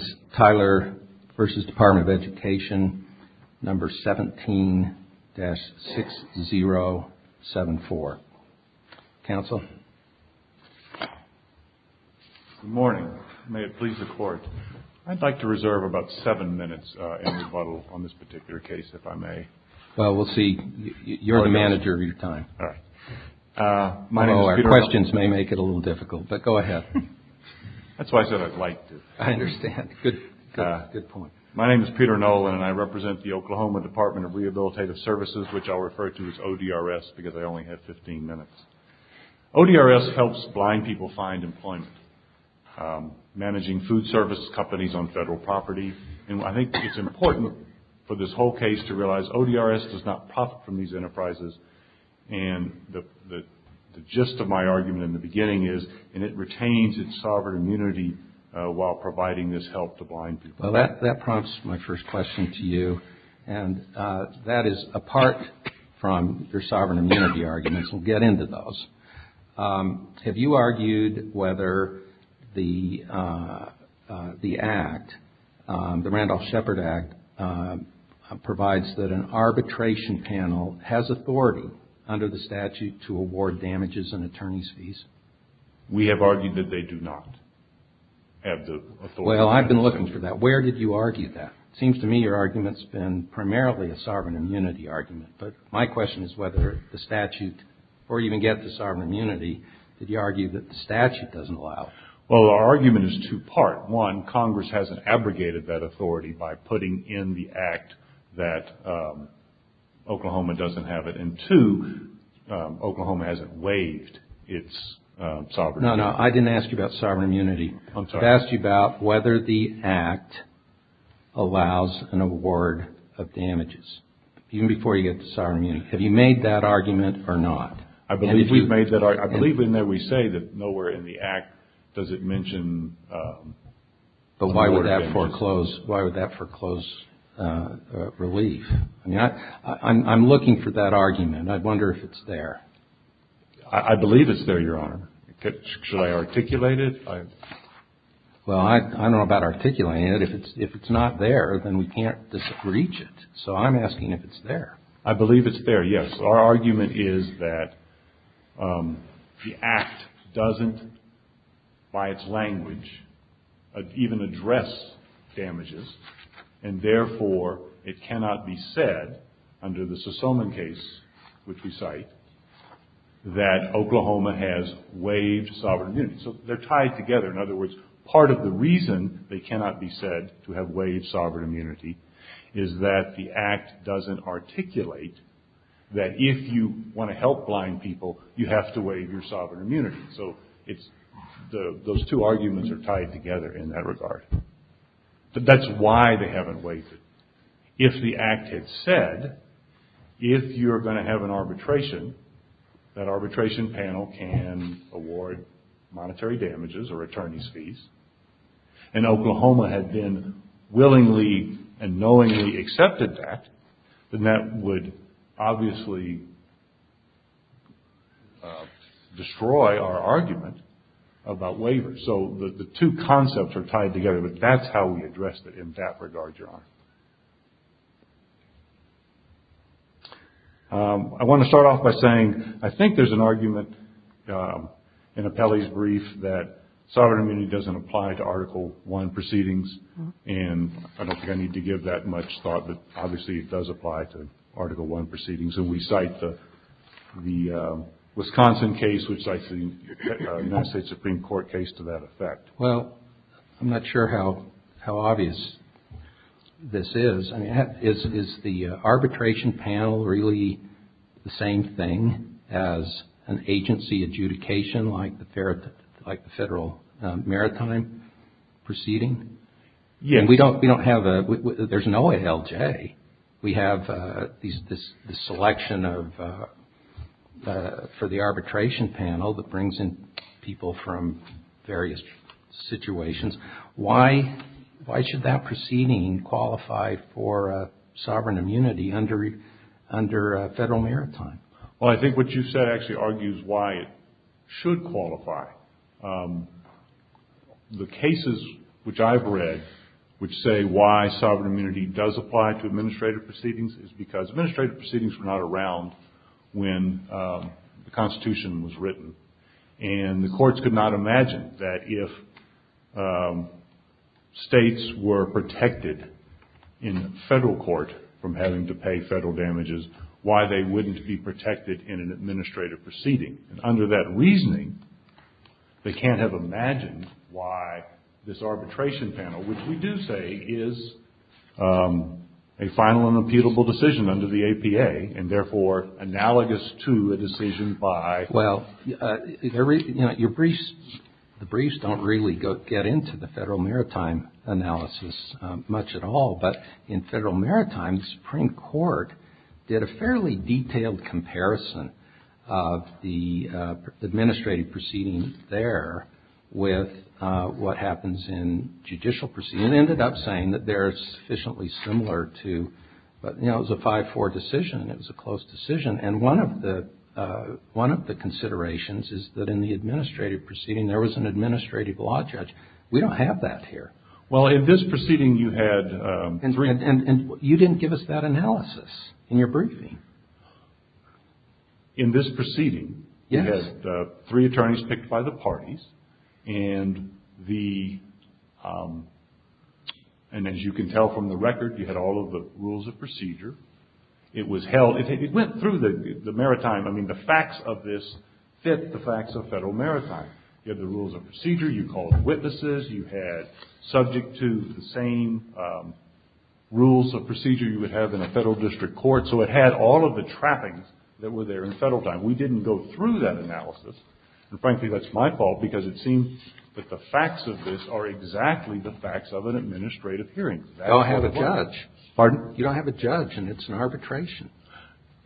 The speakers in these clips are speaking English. is Tyler v. Department of Education, number 17-6074. Counsel? Good morning. May it please the Court. I'd like to reserve about seven minutes in rebuttal on this particular case, if I may. Well, we'll see. You're the manager of your time. All right. My name is Peter Huntley. I know our questions may make it a little difficult, but go ahead. That's why I said I'd like to. I understand. Good point. My name is Peter Nolan, and I represent the Oklahoma Department of Rehabilitative Services, which I'll refer to as ODRS because I only have 15 minutes. ODRS helps blind people find employment, managing food service companies on federal property. And I think it's important for this whole case to realize ODRS does not profit from these enterprises. And the gist of my argument in the beginning is it retains its sovereign immunity while providing this help to blind people. Well, that prompts my first question to you, and that is apart from your sovereign immunity arguments. We'll get into those. Have you argued whether the act, the Randolph-Shepard Act, provides that an arbitration panel has authority under the statute to award damages and attorney's fees? We have argued that they do not have the authority. Well, I've been looking for that. Where did you argue that? It seems to me your argument's been primarily a sovereign immunity argument. But my question is whether the statute, or even get the sovereign immunity, did you argue that the statute doesn't allow it? Well, our argument is two-part. One, Congress hasn't abrogated that authority by putting in the act that Oklahoma doesn't have it. And two, Oklahoma hasn't waived its sovereign immunity. No, no, I didn't ask you about sovereign immunity. I'm sorry. I asked you about whether the act allows an award of damages, even before you get the sovereign immunity. Have you made that argument or not? I believe we've made that argument. I believe in there we say that nowhere in the act does it mention award of damages. But why would that foreclose relief? I mean, I'm looking for that argument. I wonder if it's there. I believe it's there, Your Honor. Should I articulate it? Well, I don't know about articulating it. If it's not there, then we can't reach it. So I'm asking if it's there. I believe it's there, yes. Our argument is that the act doesn't, by its language, even address damages. And therefore, it cannot be said under the Sosoman case, which we cite, that Oklahoma has waived sovereign immunity. So they're tied together. In other words, part of the reason they cannot be said to have waived sovereign immunity is that the act doesn't articulate that if you want to help blind people, you have to waive your sovereign immunity. So those two arguments are tied together in that regard. That's why they haven't waived it. If the act had said, if you're going to have an arbitration, that arbitration panel can award monetary damages or attorney's fees. And Oklahoma had then willingly and knowingly accepted that, then that would obviously destroy our argument about waivers. So the two concepts are tied together. But that's how we addressed it in that regard, Your Honor. I want to start off by saying I think there's an argument in Apelli's brief that sovereign immunity doesn't apply to Article I proceedings. And I don't think I need to give that much thought, but obviously it does apply to Article I proceedings. And we cite the Wisconsin case, which I think the United States Supreme Court case to that effect. Well, I'm not sure how obvious this is. I mean, is the arbitration panel really the same thing as an agency adjudication like the federal maritime proceeding? Yes. We don't have a, there's no LJ. We have this selection for the arbitration panel that brings in people from various situations. Why should that proceeding qualify for sovereign immunity under federal maritime? Well, I think what you said actually argues why it should qualify. The cases which I've read which say why sovereign immunity does apply to administrative proceedings is because administrative proceedings were not around when the Constitution was written. And the courts could not imagine that if states were protected in federal court from having to pay federal damages, why they wouldn't be protected in an administrative proceeding. And under that reasoning, they can't have imagined why this arbitration panel, which we do say is a final and imputable decision under the APA and therefore analogous to a decision by. Well, you know, the briefs don't really get into the federal maritime analysis much at all. But in federal maritime, the Supreme Court did a fairly detailed comparison of the administrative proceeding there with what happens in judicial proceedings. It ended up saying that they're sufficiently similar to, you know, it was a 5-4 decision. It was a close decision. And one of the considerations is that in the administrative proceeding, there was an administrative law judge. We don't have that here. Well, in this proceeding, you had three. And you didn't give us that analysis in your briefing. In this proceeding, you had three attorneys picked by the parties. And as you can tell from the record, you had all of the rules of procedure. It was held. It went through the maritime. I mean, the facts of this fit the facts of federal maritime. You had the rules of procedure. You called the witnesses. You had subject to the same rules of procedure you would have in a federal district court. So it had all of the trappings that were there in federal time. We didn't go through that analysis. And frankly, that's my fault, because it seemed that the facts of this are exactly the facts of an administrative hearing. I don't have a judge. Pardon? You don't have a judge, and it's an arbitration.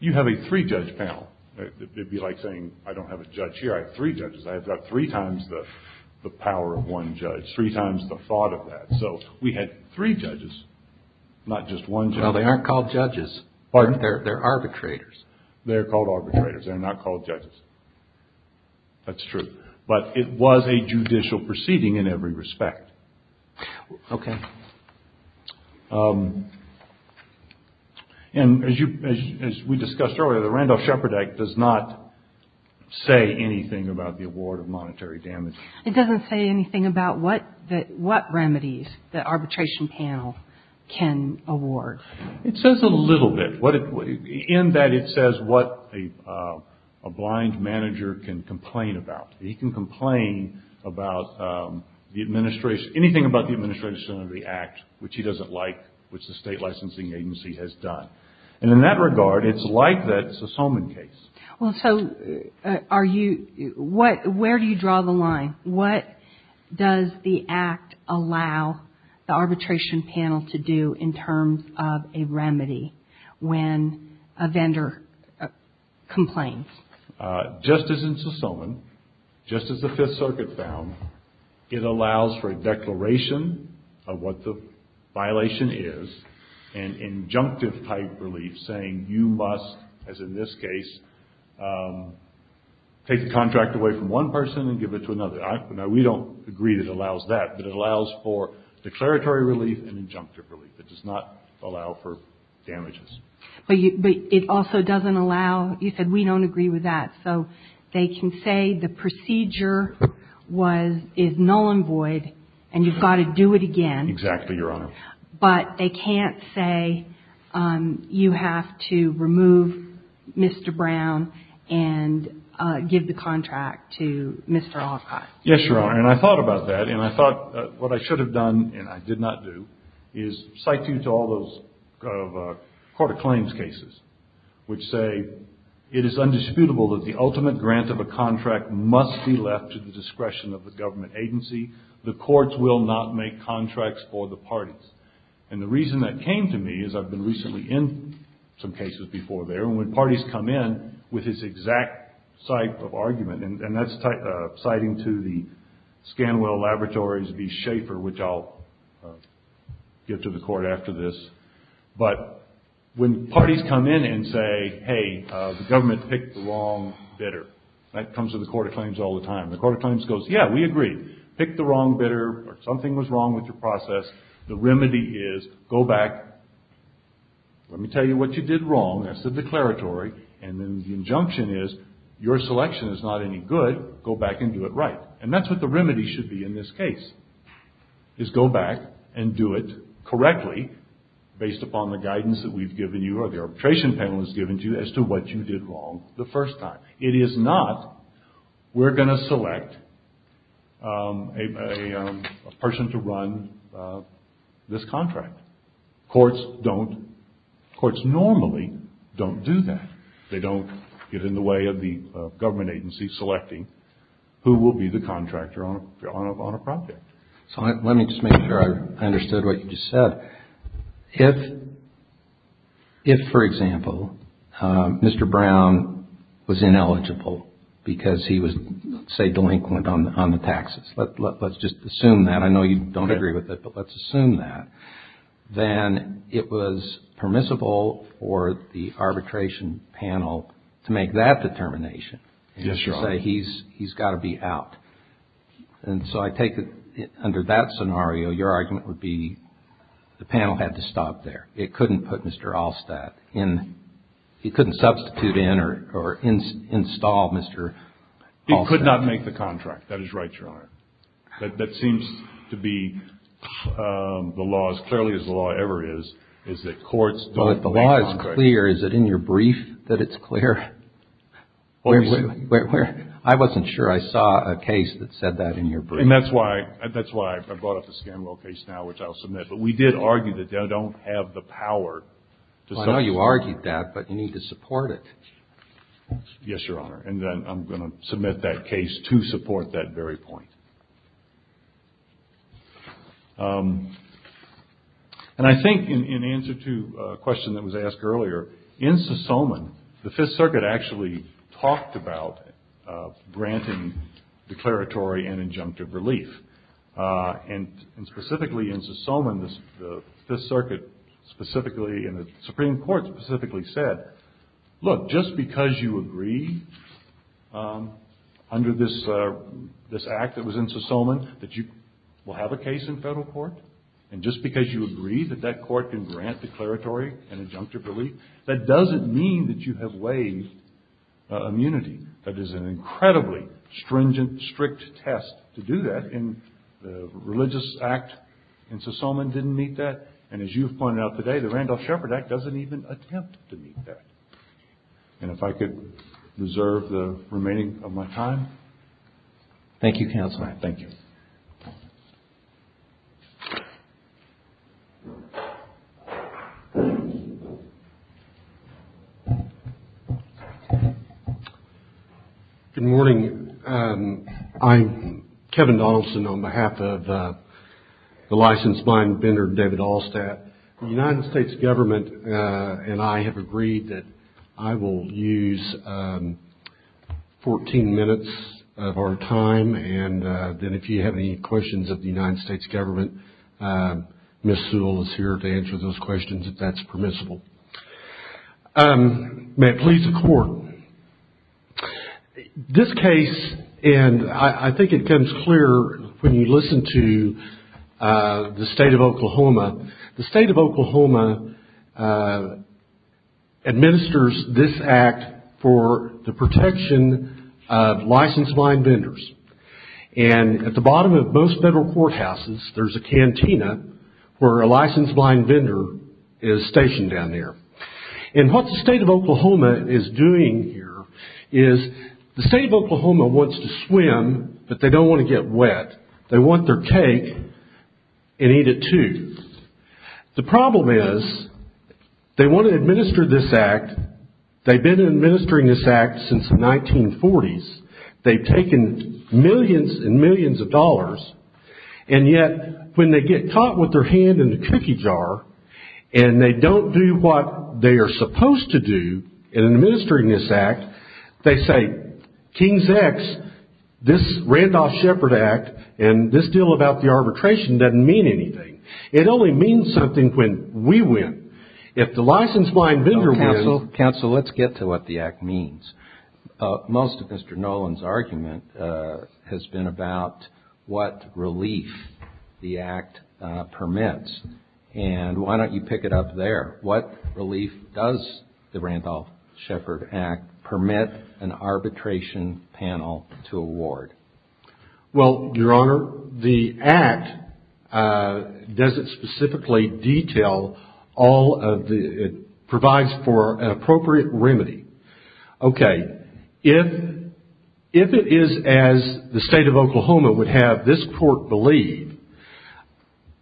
You have a three-judge panel. It would be like saying, I don't have a judge here. I have three judges. I have about three times the power of one judge, three times the thought of that. So we had three judges, not just one judge. Well, they aren't called judges. Pardon? They're arbitrators. They're called arbitrators. They're not called judges. That's true. But it was a judicial proceeding in every respect. Okay. And as we discussed earlier, the Randolph-Shepard Act does not say anything about the award of monetary damage. It doesn't say anything about what remedies the arbitration panel can award. It says a little bit. In that, it says what a blind manager can complain about. He can complain about the administration, anything about the administration of the act, which he doesn't like, which the state licensing agency has done. And in that regard, it's like that Sosoman case. Well, so are you – where do you draw the line? What does the act allow the arbitration panel to do in terms of a remedy when a vendor complains? Just as in Sosoman, just as the Fifth Circuit found, it allows for a declaration of what the violation is and injunctive-type relief saying you must, as in this case, take the contract away from one person and give it to another. Now, we don't agree that it allows that, but it allows for declaratory relief and injunctive relief. It does not allow for damages. But it also doesn't allow – you said we don't agree with that. So they can say the procedure was – is null and void and you've got to do it again. Exactly, Your Honor. But they can't say you have to remove Mr. Brown and give the contract to Mr. Alcott. Yes, Your Honor. And I thought about that, and I thought what I should have done and I did not do is cite you to all those Court of Claims cases which say it is undisputable that the ultimate grant of a contract must be left to the discretion of the government agency. The courts will not make contracts for the parties. And the reason that came to me is I've been recently in some cases before there, with his exact type of argument, and that's citing to the Scanwell Laboratories v. Schaeffer, which I'll give to the Court after this. But when parties come in and say, hey, the government picked the wrong bidder, that comes to the Court of Claims all the time. The Court of Claims goes, yeah, we agree. Pick the wrong bidder or something was wrong with your process. The remedy is go back. Let me tell you what you did wrong. That's the declaratory. And then the injunction is your selection is not any good. Go back and do it right. And that's what the remedy should be in this case is go back and do it correctly based upon the guidance that we've given you or the arbitration panel has given to you as to what you did wrong the first time. It is not we're going to select a person to run this contract. Courts normally don't do that. They don't get in the way of the government agency selecting who will be the contractor on a project. So let me just make sure I understood what you just said. If, for example, Mr. Brown was ineligible because he was, say, delinquent on the taxes, let's just assume that. And I know you don't agree with it, but let's assume that. Then it was permissible for the arbitration panel to make that determination and to say he's got to be out. And so I take it under that scenario, your argument would be the panel had to stop there. It couldn't put Mr. Allstat in. It couldn't substitute in or install Mr. Allstat. It could not make the contract. That is right, Your Honor. That seems to be the law, as clearly as the law ever is, is that courts don't make contracts. Well, if the law is clear, is it in your brief that it's clear? I wasn't sure I saw a case that said that in your brief. And that's why I brought up the Scanwell case now, which I'll submit. But we did argue that they don't have the power to substitute. Well, I know you argued that, but you need to support it. Yes, Your Honor. And then I'm going to submit that case to support that very point. And I think in answer to a question that was asked earlier, in Sosoman, the Fifth Circuit actually talked about granting declaratory and injunctive relief. And specifically in Sosoman, the Fifth Circuit specifically and the Supreme Court specifically said, look, just because you agree under this act that was in Sosoman that you will have a case in federal court, and just because you agree that that court can grant declaratory and injunctive relief, that doesn't mean that you have waived immunity. That is an incredibly stringent, strict test to do that. And the Religious Act in Sosoman didn't meet that. And as you've pointed out today, the Randolph-Shepard Act doesn't even attempt to meet that. And if I could reserve the remaining of my time. Thank you, Counselor. Thank you. Thank you. Good morning. I'm Kevin Donaldson on behalf of the licensed mine vendor, David Allstat. The United States Government and I have agreed that I will use 14 minutes of our time, and then if you have any questions of the United States Government, Ms. Sewell is here to answer those questions if that's permissible. May it please the Court. This case, and I think it becomes clear when you listen to the State of Oklahoma. The State of Oklahoma administers this act for the protection of licensed mine vendors. And at the bottom of most federal courthouses, there's a cantina where a licensed mine vendor is stationed down there. And what the State of Oklahoma is doing here is the State of Oklahoma wants to swim, but they don't want to get wet. They want their cake and eat it too. The problem is they want to administer this act. They've been administering this act since the 1940s. They've taken millions and millions of dollars, and yet when they get caught with their hand in the cookie jar and they don't do what they are supposed to do in administering this act, they say, King's X, this Randolph Shepard Act, and this deal about the arbitration doesn't mean anything. It only means something when we win. If the licensed mine vendor wins... Counsel, let's get to what the act means. Most of Mr. Nolan's argument has been about what relief the act permits. And why don't you pick it up there? What relief does the Randolph Shepard Act permit an arbitration panel to award? Well, Your Honor, the act doesn't specifically detail all of the... It provides for an appropriate remedy. Okay, if it is as the State of Oklahoma would have this court believe,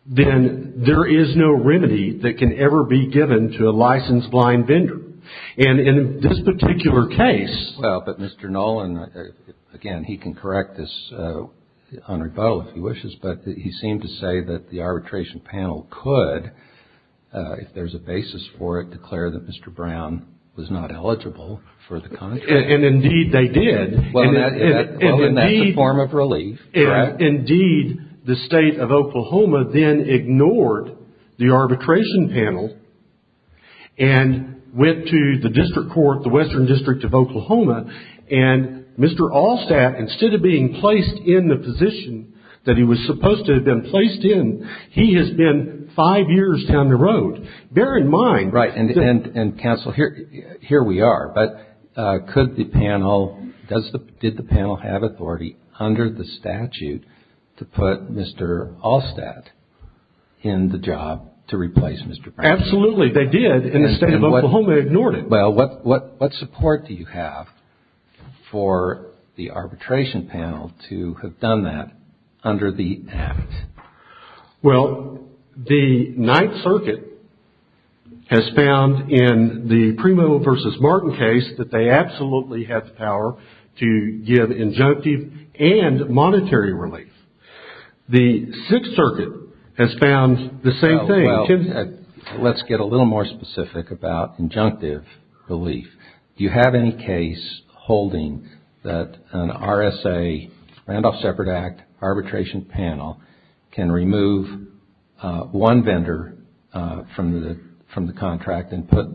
then there is no remedy that can ever be given to a licensed mine vendor. And in this particular case... Well, but Mr. Nolan, again, he can correct this, Honored Bo, if he wishes, but he seemed to say that the arbitration panel could, if there's a basis for it, declare that Mr. Brown was not eligible for the contract. And indeed they did. Well, then that's a form of relief. Indeed, the State of Oklahoma then ignored the arbitration panel and went to the district court, the Western District of Oklahoma, and Mr. Allstat, instead of being placed in the position that he was supposed to have been placed in, he has been five years down the road. Bear in mind... Right, and Counsel, here we are. But could the panel, did the panel have authority under the statute to put Mr. Allstat in the job to replace Mr. Brown? Absolutely, they did. And the State of Oklahoma ignored it. Well, what support do you have for the arbitration panel to have done that under the act? Well, the Ninth Circuit has found in the Primo v. Martin case that they absolutely had the power to give injunctive and monetary relief. The Sixth Circuit has found the same thing. Well, let's get a little more specific about injunctive relief. Do you have any case holding that an RSA, Randolph Separate Act, arbitration panel, can remove one vendor from the contract and put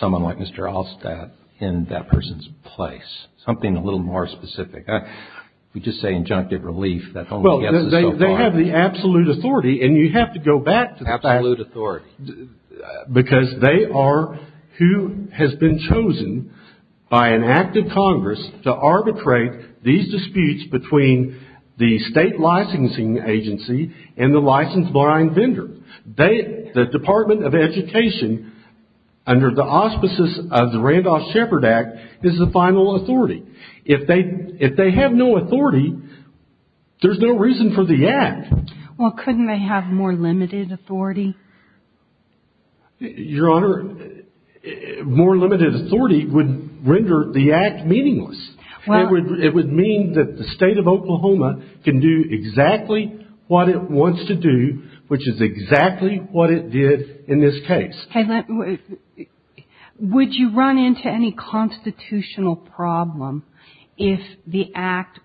someone like Mr. Allstat in that person's place? Something a little more specific. If we just say injunctive relief, that only gets us so far. Well, they have the absolute authority, and you have to go back to that. Absolute authority. Because they are who has been chosen by an act of Congress to arbitrate these disputes between the state licensing agency and the license-buying vendor. The Department of Education, under the auspices of the Randolph Separate Act, is the final authority. If they have no authority, there's no reason for the act. Well, couldn't they have more limited authority? Your Honor, more limited authority would render the act meaningless. It would mean that the state of Oklahoma can do exactly what it wants to do, which is exactly what it did in this case. Would you run into any constitutional problem if the act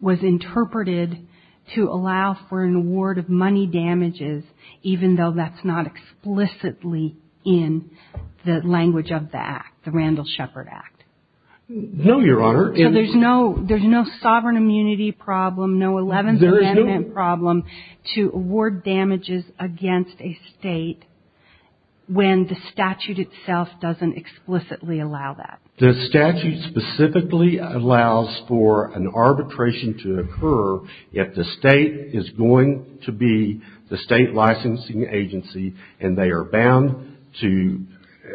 was interpreted to allow for an award of money damages, even though that's not explicitly in the language of the act, the Randolph Separate Act? No, Your Honor. So there's no sovereign immunity problem, no Eleventh Amendment problem, to award damages against a state when the statute itself doesn't explicitly allow that? The statute specifically allows for an arbitration to occur if the state is going to be the state licensing agency and they are bound to,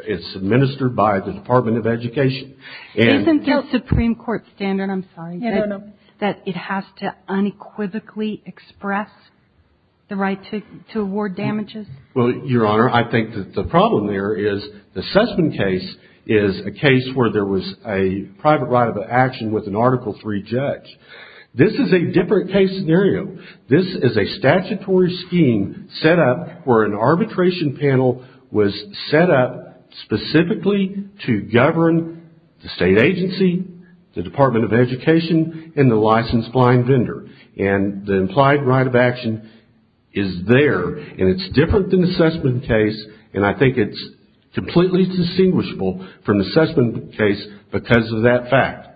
it's administered by the Department of Education. Isn't the Supreme Court standard, I'm sorry, that it has to unequivocally express the right to award damages? Well, Your Honor, I think that the problem there is the Sussman case is a case where there was a private right of action with an Article III judge. This is a different case scenario. This is a statutory scheme set up where an arbitration panel was set up specifically to govern the state agency, the Department of Education, and the licensed blind vendor. And the implied right of action is there and it's different than the Sussman case and I think it's completely distinguishable from the Sussman case because of that fact.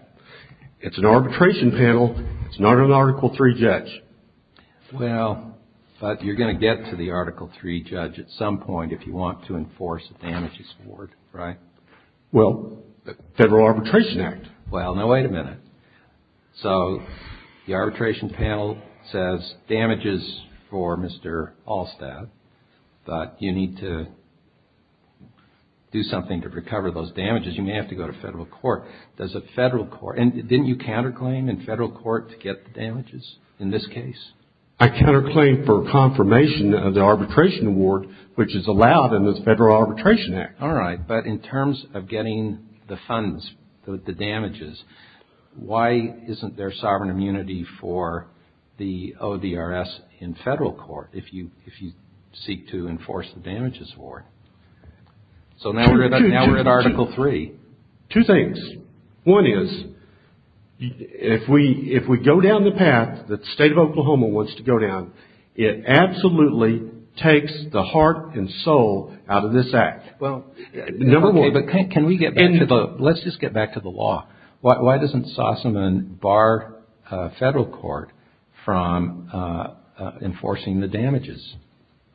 It's an arbitration panel. It's not an Article III judge. Well, but you're going to get to the Article III judge at some point if you want to enforce a damages award, right? Well, the Federal Arbitration Act. Well, now wait a minute. So the arbitration panel says damages for Mr. Allstaff, but you need to do something to recover those damages. You may have to go to federal court. Does a federal court, and didn't you counterclaim in federal court to get the damages in this case? I counterclaimed for confirmation of the arbitration award, which is allowed in the Federal Arbitration Act. All right, but in terms of getting the funds, the damages, why isn't there sovereign immunity for the ODRS in federal court if you seek to enforce the damages award? So now we're at Article III. Two things. One is if we go down the path that the state of Oklahoma wants to go down, it absolutely takes the heart and soul out of this act. Well, okay, but can we get back to the law? Let's just get back to the law. Why doesn't Sussman bar federal court from enforcing the damages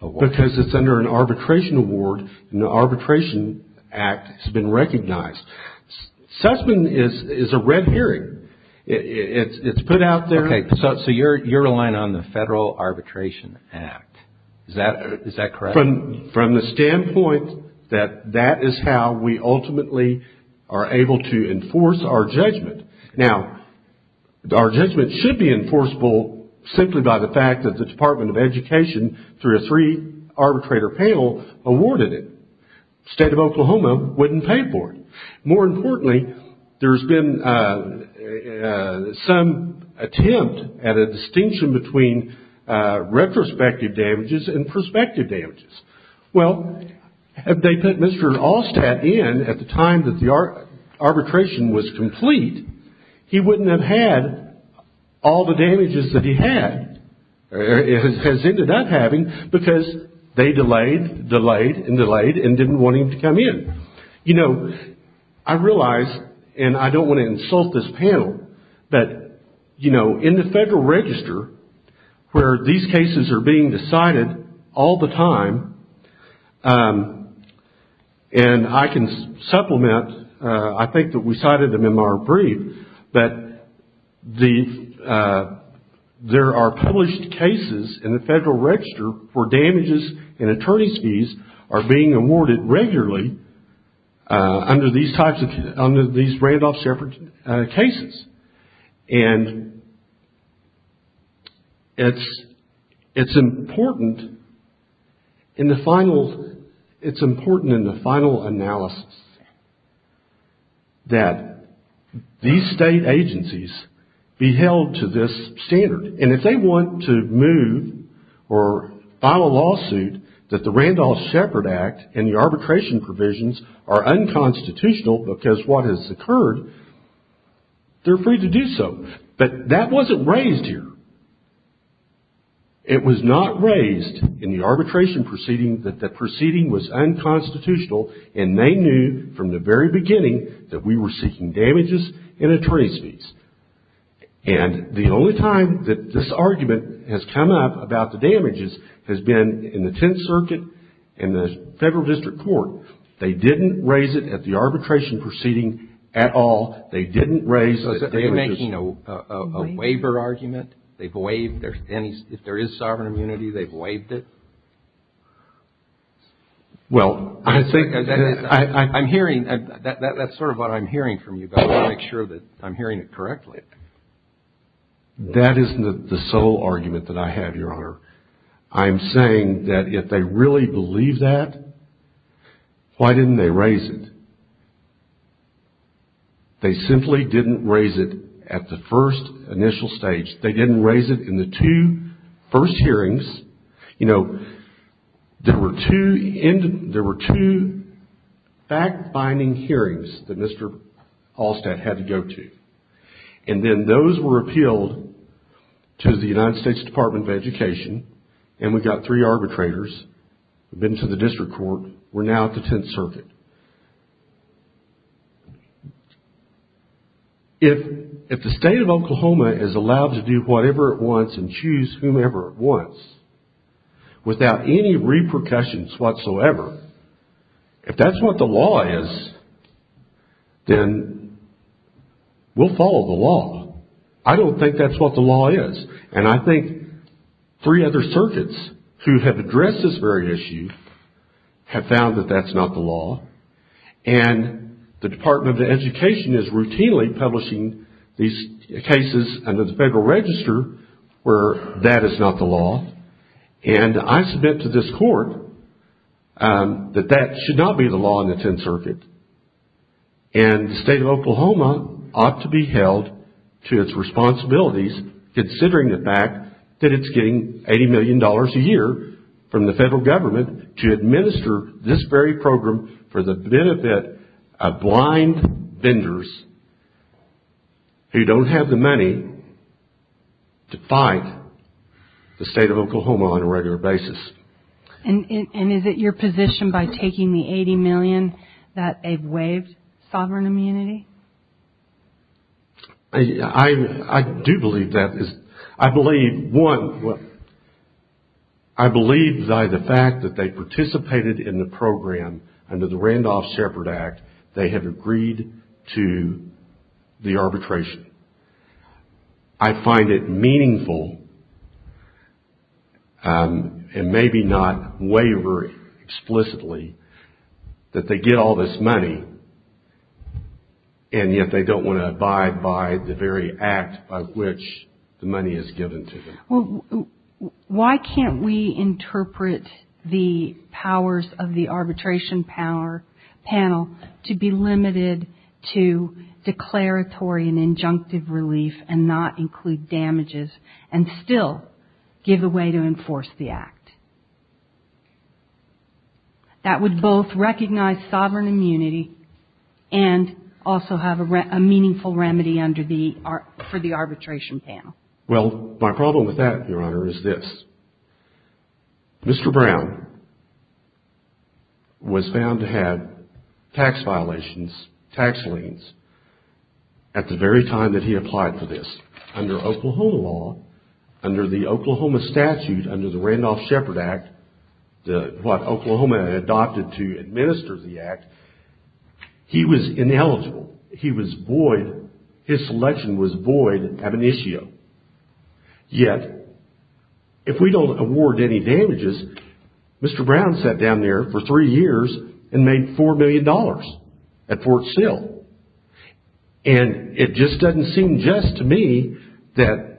award? Because it's under an arbitration award, and the Arbitration Act has been recognized. Sussman is a red herring. It's put out there. Okay, so you're relying on the Federal Arbitration Act. Is that correct? From the standpoint that that is how we ultimately are able to enforce our judgment. Now, our judgment should be enforceable simply by the fact that the Department of Education, through a three-arbitrator panel, awarded it. The state of Oklahoma wouldn't pay for it. More importantly, there's been some attempt at a distinction between retrospective damages and prospective damages. Well, if they put Mr. Allstat in at the time that the arbitration was complete, he wouldn't have had all the damages that he had, or has ended up having because they delayed, delayed, and delayed, and didn't want him to come in. You know, I realize, and I don't want to insult this panel, but, you know, in the Federal Register, where these cases are being decided all the time, and I can supplement, I think that we cited them in our brief, that there are published cases in the Federal Register for damages and attorney's fees are being awarded regularly under these Randolph-Sheppard cases. And it's important in the final analysis that these state agencies be held to this standard. And if they want to move or file a lawsuit that the Randolph-Sheppard Act and the arbitration provisions are unconstitutional because what has occurred, they're free to do so. But that wasn't raised here. It was not raised in the arbitration proceeding that the proceeding was unconstitutional and they knew from the very beginning that we were seeking damages and attorney's fees. And the only time that this argument has come up about the damages has been in the Tenth Circuit and the Federal District Court. They didn't raise it at the arbitration proceeding at all. They didn't raise the damages. Are you making a waiver argument? If there is sovereign immunity, they've waived it? Well, I think that's sort of what I'm hearing from you, but I want to make sure that I'm hearing it correctly. That isn't the sole argument that I have, Your Honor. I'm saying that if they really believe that, why didn't they raise it? They simply didn't raise it at the first initial stage. They didn't raise it in the two first hearings. You know, there were two fact-finding hearings that Mr. Hallstatt had to go to. And then those were appealed to the United States Department of Education, and we got three arbitrators who've been to the district court. We're now at the Tenth Circuit. If the state of Oklahoma is allowed to do whatever it wants and choose whomever it wants without any repercussions whatsoever, if that's what the law is, then we'll follow the law. I don't think that's what the law is. And I think three other circuits who have addressed this very issue have found that that's not the law. And the Department of Education is routinely publishing these cases under the Federal Register where that is not the law. And I submit to this court that that should not be the law in the Tenth Circuit. And the state of Oklahoma ought to be held to its responsibilities, considering the fact that it's getting $80 million a year from the federal government to administer this very program for the benefit of blind vendors who don't have the money to fight the state of Oklahoma on a regular basis. And is it your position by taking the $80 million that they've waived sovereign immunity? I do believe that. I believe, one, I believe by the fact that they participated in the program under the Randolph-Shepard Act, they have agreed to the arbitration. I find it meaningful, and maybe not wavering explicitly, that they get all this money, and yet they don't want to abide by the very act by which the money is given to them. Well, why can't we interpret the powers of the arbitration panel to be limited to declaratory and injunctive relief and not include damages, and still give a way to enforce the act? That would both recognize sovereign immunity and also have a meaningful remedy for the arbitration panel. Well, my problem with that, Your Honor, is this. Mr. Brown was found to have tax violations, tax liens, at the very time that he applied for this. Under Oklahoma law, under the Oklahoma statute, under the Randolph-Shepard Act, what Oklahoma adopted to administer the act, he was ineligible. He was void. His selection was void ad initio. Yet, if we don't award any damages, Mr. Brown sat down there for three years and made $4 million at Fort Sill. It just doesn't seem just to me that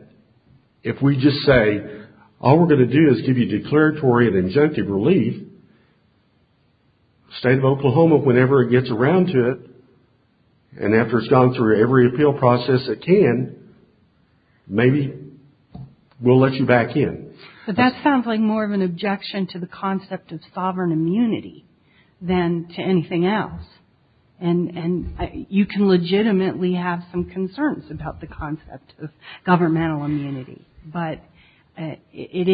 if we just say, all we're going to do is give you declaratory and injunctive relief, the state of Oklahoma, whenever it gets around to it, and after it's gone through every appeal process it can, maybe we'll let you back in. But that sounds like more of an objection to the concept of sovereign immunity than to anything else. And you can legitimately have some concerns about the concept of governmental immunity. But it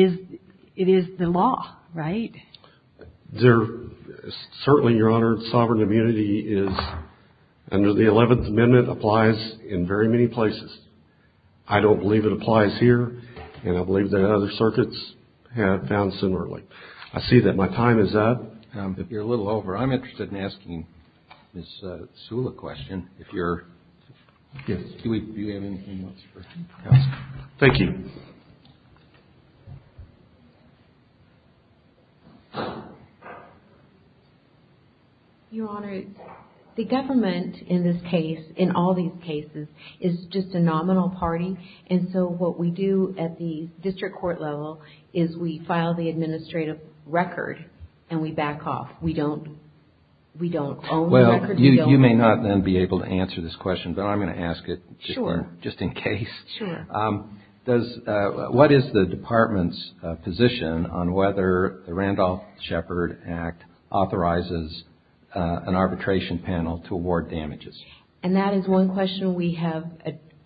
is the law, right? Certainly, Your Honor, sovereign immunity is, under the 11th Amendment, applies in very many places. I don't believe it applies here, and I believe that other circuits have found similarly. I see that my time is up. If you're a little over, I'm interested in asking Ms. Sula a question. Do we have anything else for counsel? Thank you. Your Honor, the government in this case, in all these cases, is just a nominal party. And so what we do at the district court level is we file the administrative record and we back off. We don't own the records. You may not then be able to answer this question, but I'm going to ask it just in case. Sure. What is the Department's position on whether the Randolph-Shepard Act authorizes an arbitration panel to award damages? And that is one question we have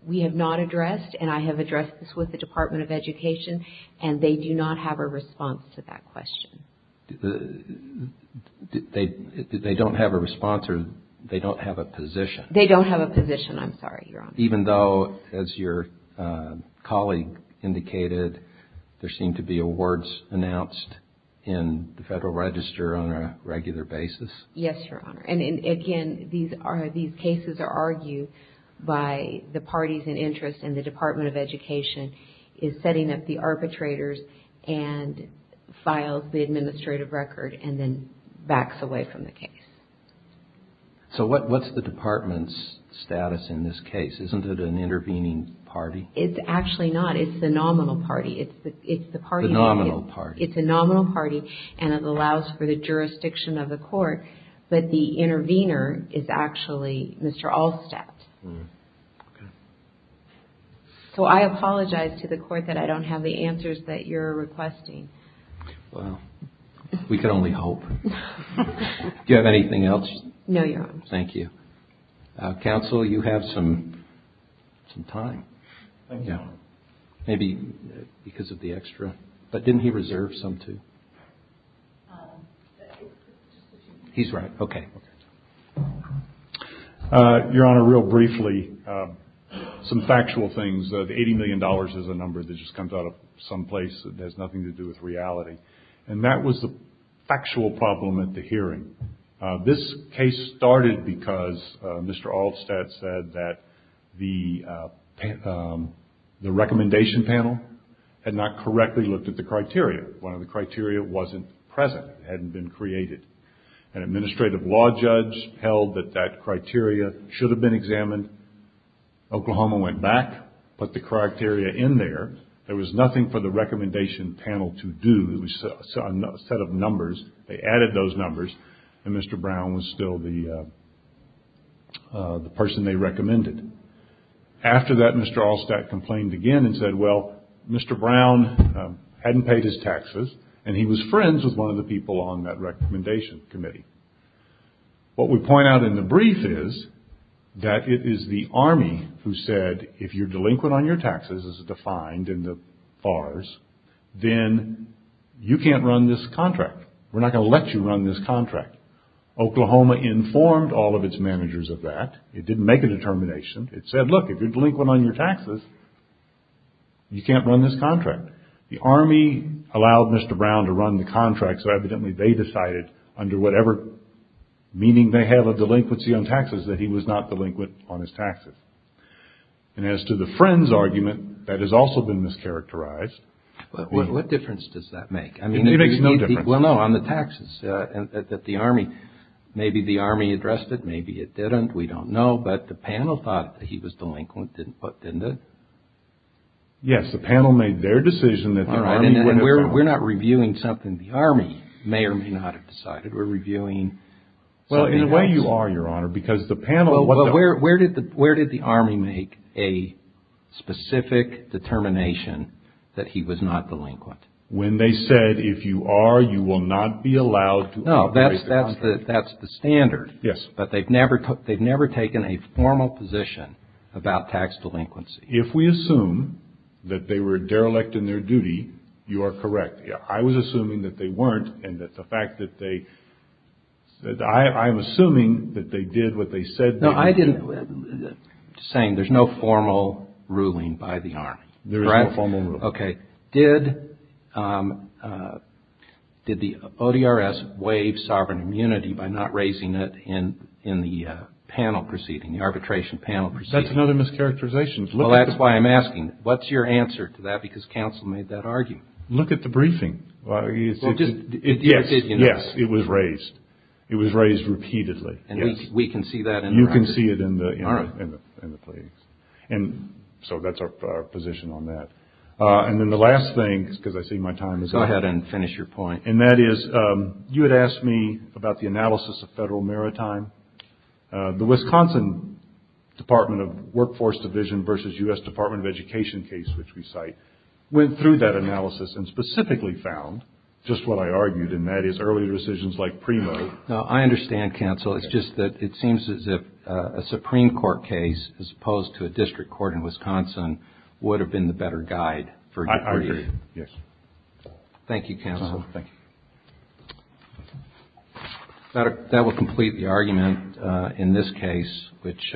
not addressed, and I have addressed this with the Department of Education, and they do not have a response to that question. They don't have a response or they don't have a position? They don't have a position, I'm sorry, Your Honor. Even though, as your colleague indicated, there seem to be awards announced in the Federal Register on a regular basis? Yes, Your Honor. And again, these cases are argued by the parties in interest, and the Department of Education is setting up the arbitrators and files the administrative record and then backs away from the case. So what's the Department's status in this case? Isn't it an intervening party? It's actually not. It's the nominal party. It's the party market. The nominal party. It's a nominal party, and it allows for the jurisdiction of the court, but the intervener is actually Mr. Allstadt. So I apologize to the court that I don't have the answers that you're requesting. Well, we could only hope. Do you have anything else? No, Your Honor. Thank you. Counsel, you have some time. Thank you, Your Honor. Maybe because of the extra, but didn't he reserve some too? He's right. Okay. Your Honor, real briefly, some factual things. The $80 million is a number that just comes out of some place that has nothing to do with reality, and that was the factual problem at the hearing. This case started because Mr. Allstadt said that the recommendation panel had not correctly looked at the criteria. One of the criteria wasn't present. It hadn't been created. An administrative law judge held that that criteria should have been examined. Oklahoma went back, put the criteria in there. There was nothing for the recommendation panel to do. It was a set of numbers. They added those numbers, and Mr. Brown was still the person they recommended. After that, Mr. Allstadt complained again and said, well, Mr. Brown hadn't paid his taxes, and he was friends with one of the people on that recommendation committee. What we point out in the brief is that it is the Army who said, if you're delinquent on your taxes, as defined in the FARS, then you can't run this contract. We're not going to let you run this contract. Oklahoma informed all of its managers of that. It didn't make a determination. It said, look, if you're delinquent on your taxes, you can't run this contract. The Army allowed Mr. Brown to run the contract, so evidently they decided, under whatever meaning they have of delinquency on taxes, that he was not delinquent on his taxes. And as to the friends argument, that has also been mischaracterized. What difference does that make? It makes no difference. Well, no, on the taxes, that the Army, maybe the Army addressed it, maybe it didn't. We don't know. But the panel thought that he was delinquent, didn't it? Yes, the panel made their decision that the Army would have. We're not reviewing something the Army may or may not have decided. We're reviewing something else. Well, in a way, you are, Your Honor, because the panel... Well, where did the Army make a specific determination that he was not delinquent? When they said, if you are, you will not be allowed to operate the contract. No, that's the standard. Yes. But they've never taken a formal position about tax delinquency. If we assume that they were derelict in their duty, you are correct. I was assuming that they weren't, and that the fact that they said... I'm assuming that they did what they said they would do. No, I didn't... I'm just saying, there's no formal ruling by the Army. There is no formal ruling. Okay. Did the ODRS waive sovereign immunity by not raising it in the panel proceeding, the arbitration panel proceeding? That's another mischaracterization. Well, that's why I'm asking, what's your answer to that? Because counsel made that argument. Look at the briefing. Yes, it was raised. It was raised repeatedly, yes. We can see that in the... You can see it in the plea. So that's our position on that. And then the last thing, because I see my time is up. Go ahead and finish your point. And that is, you had asked me about the analysis of federal maritime. The Wisconsin Department of Workforce Division versus U.S. Department of Education case, which we cite, went through that analysis and specifically found just what I argued, and that is early rescissions like PRIMO. I understand, counsel. It's just that it seems as if a Supreme Court case, as opposed to a district court in Wisconsin, would have been the better guide. I agree, yes. Thank you, counsel. Thank you. That will complete the argument in this case, which...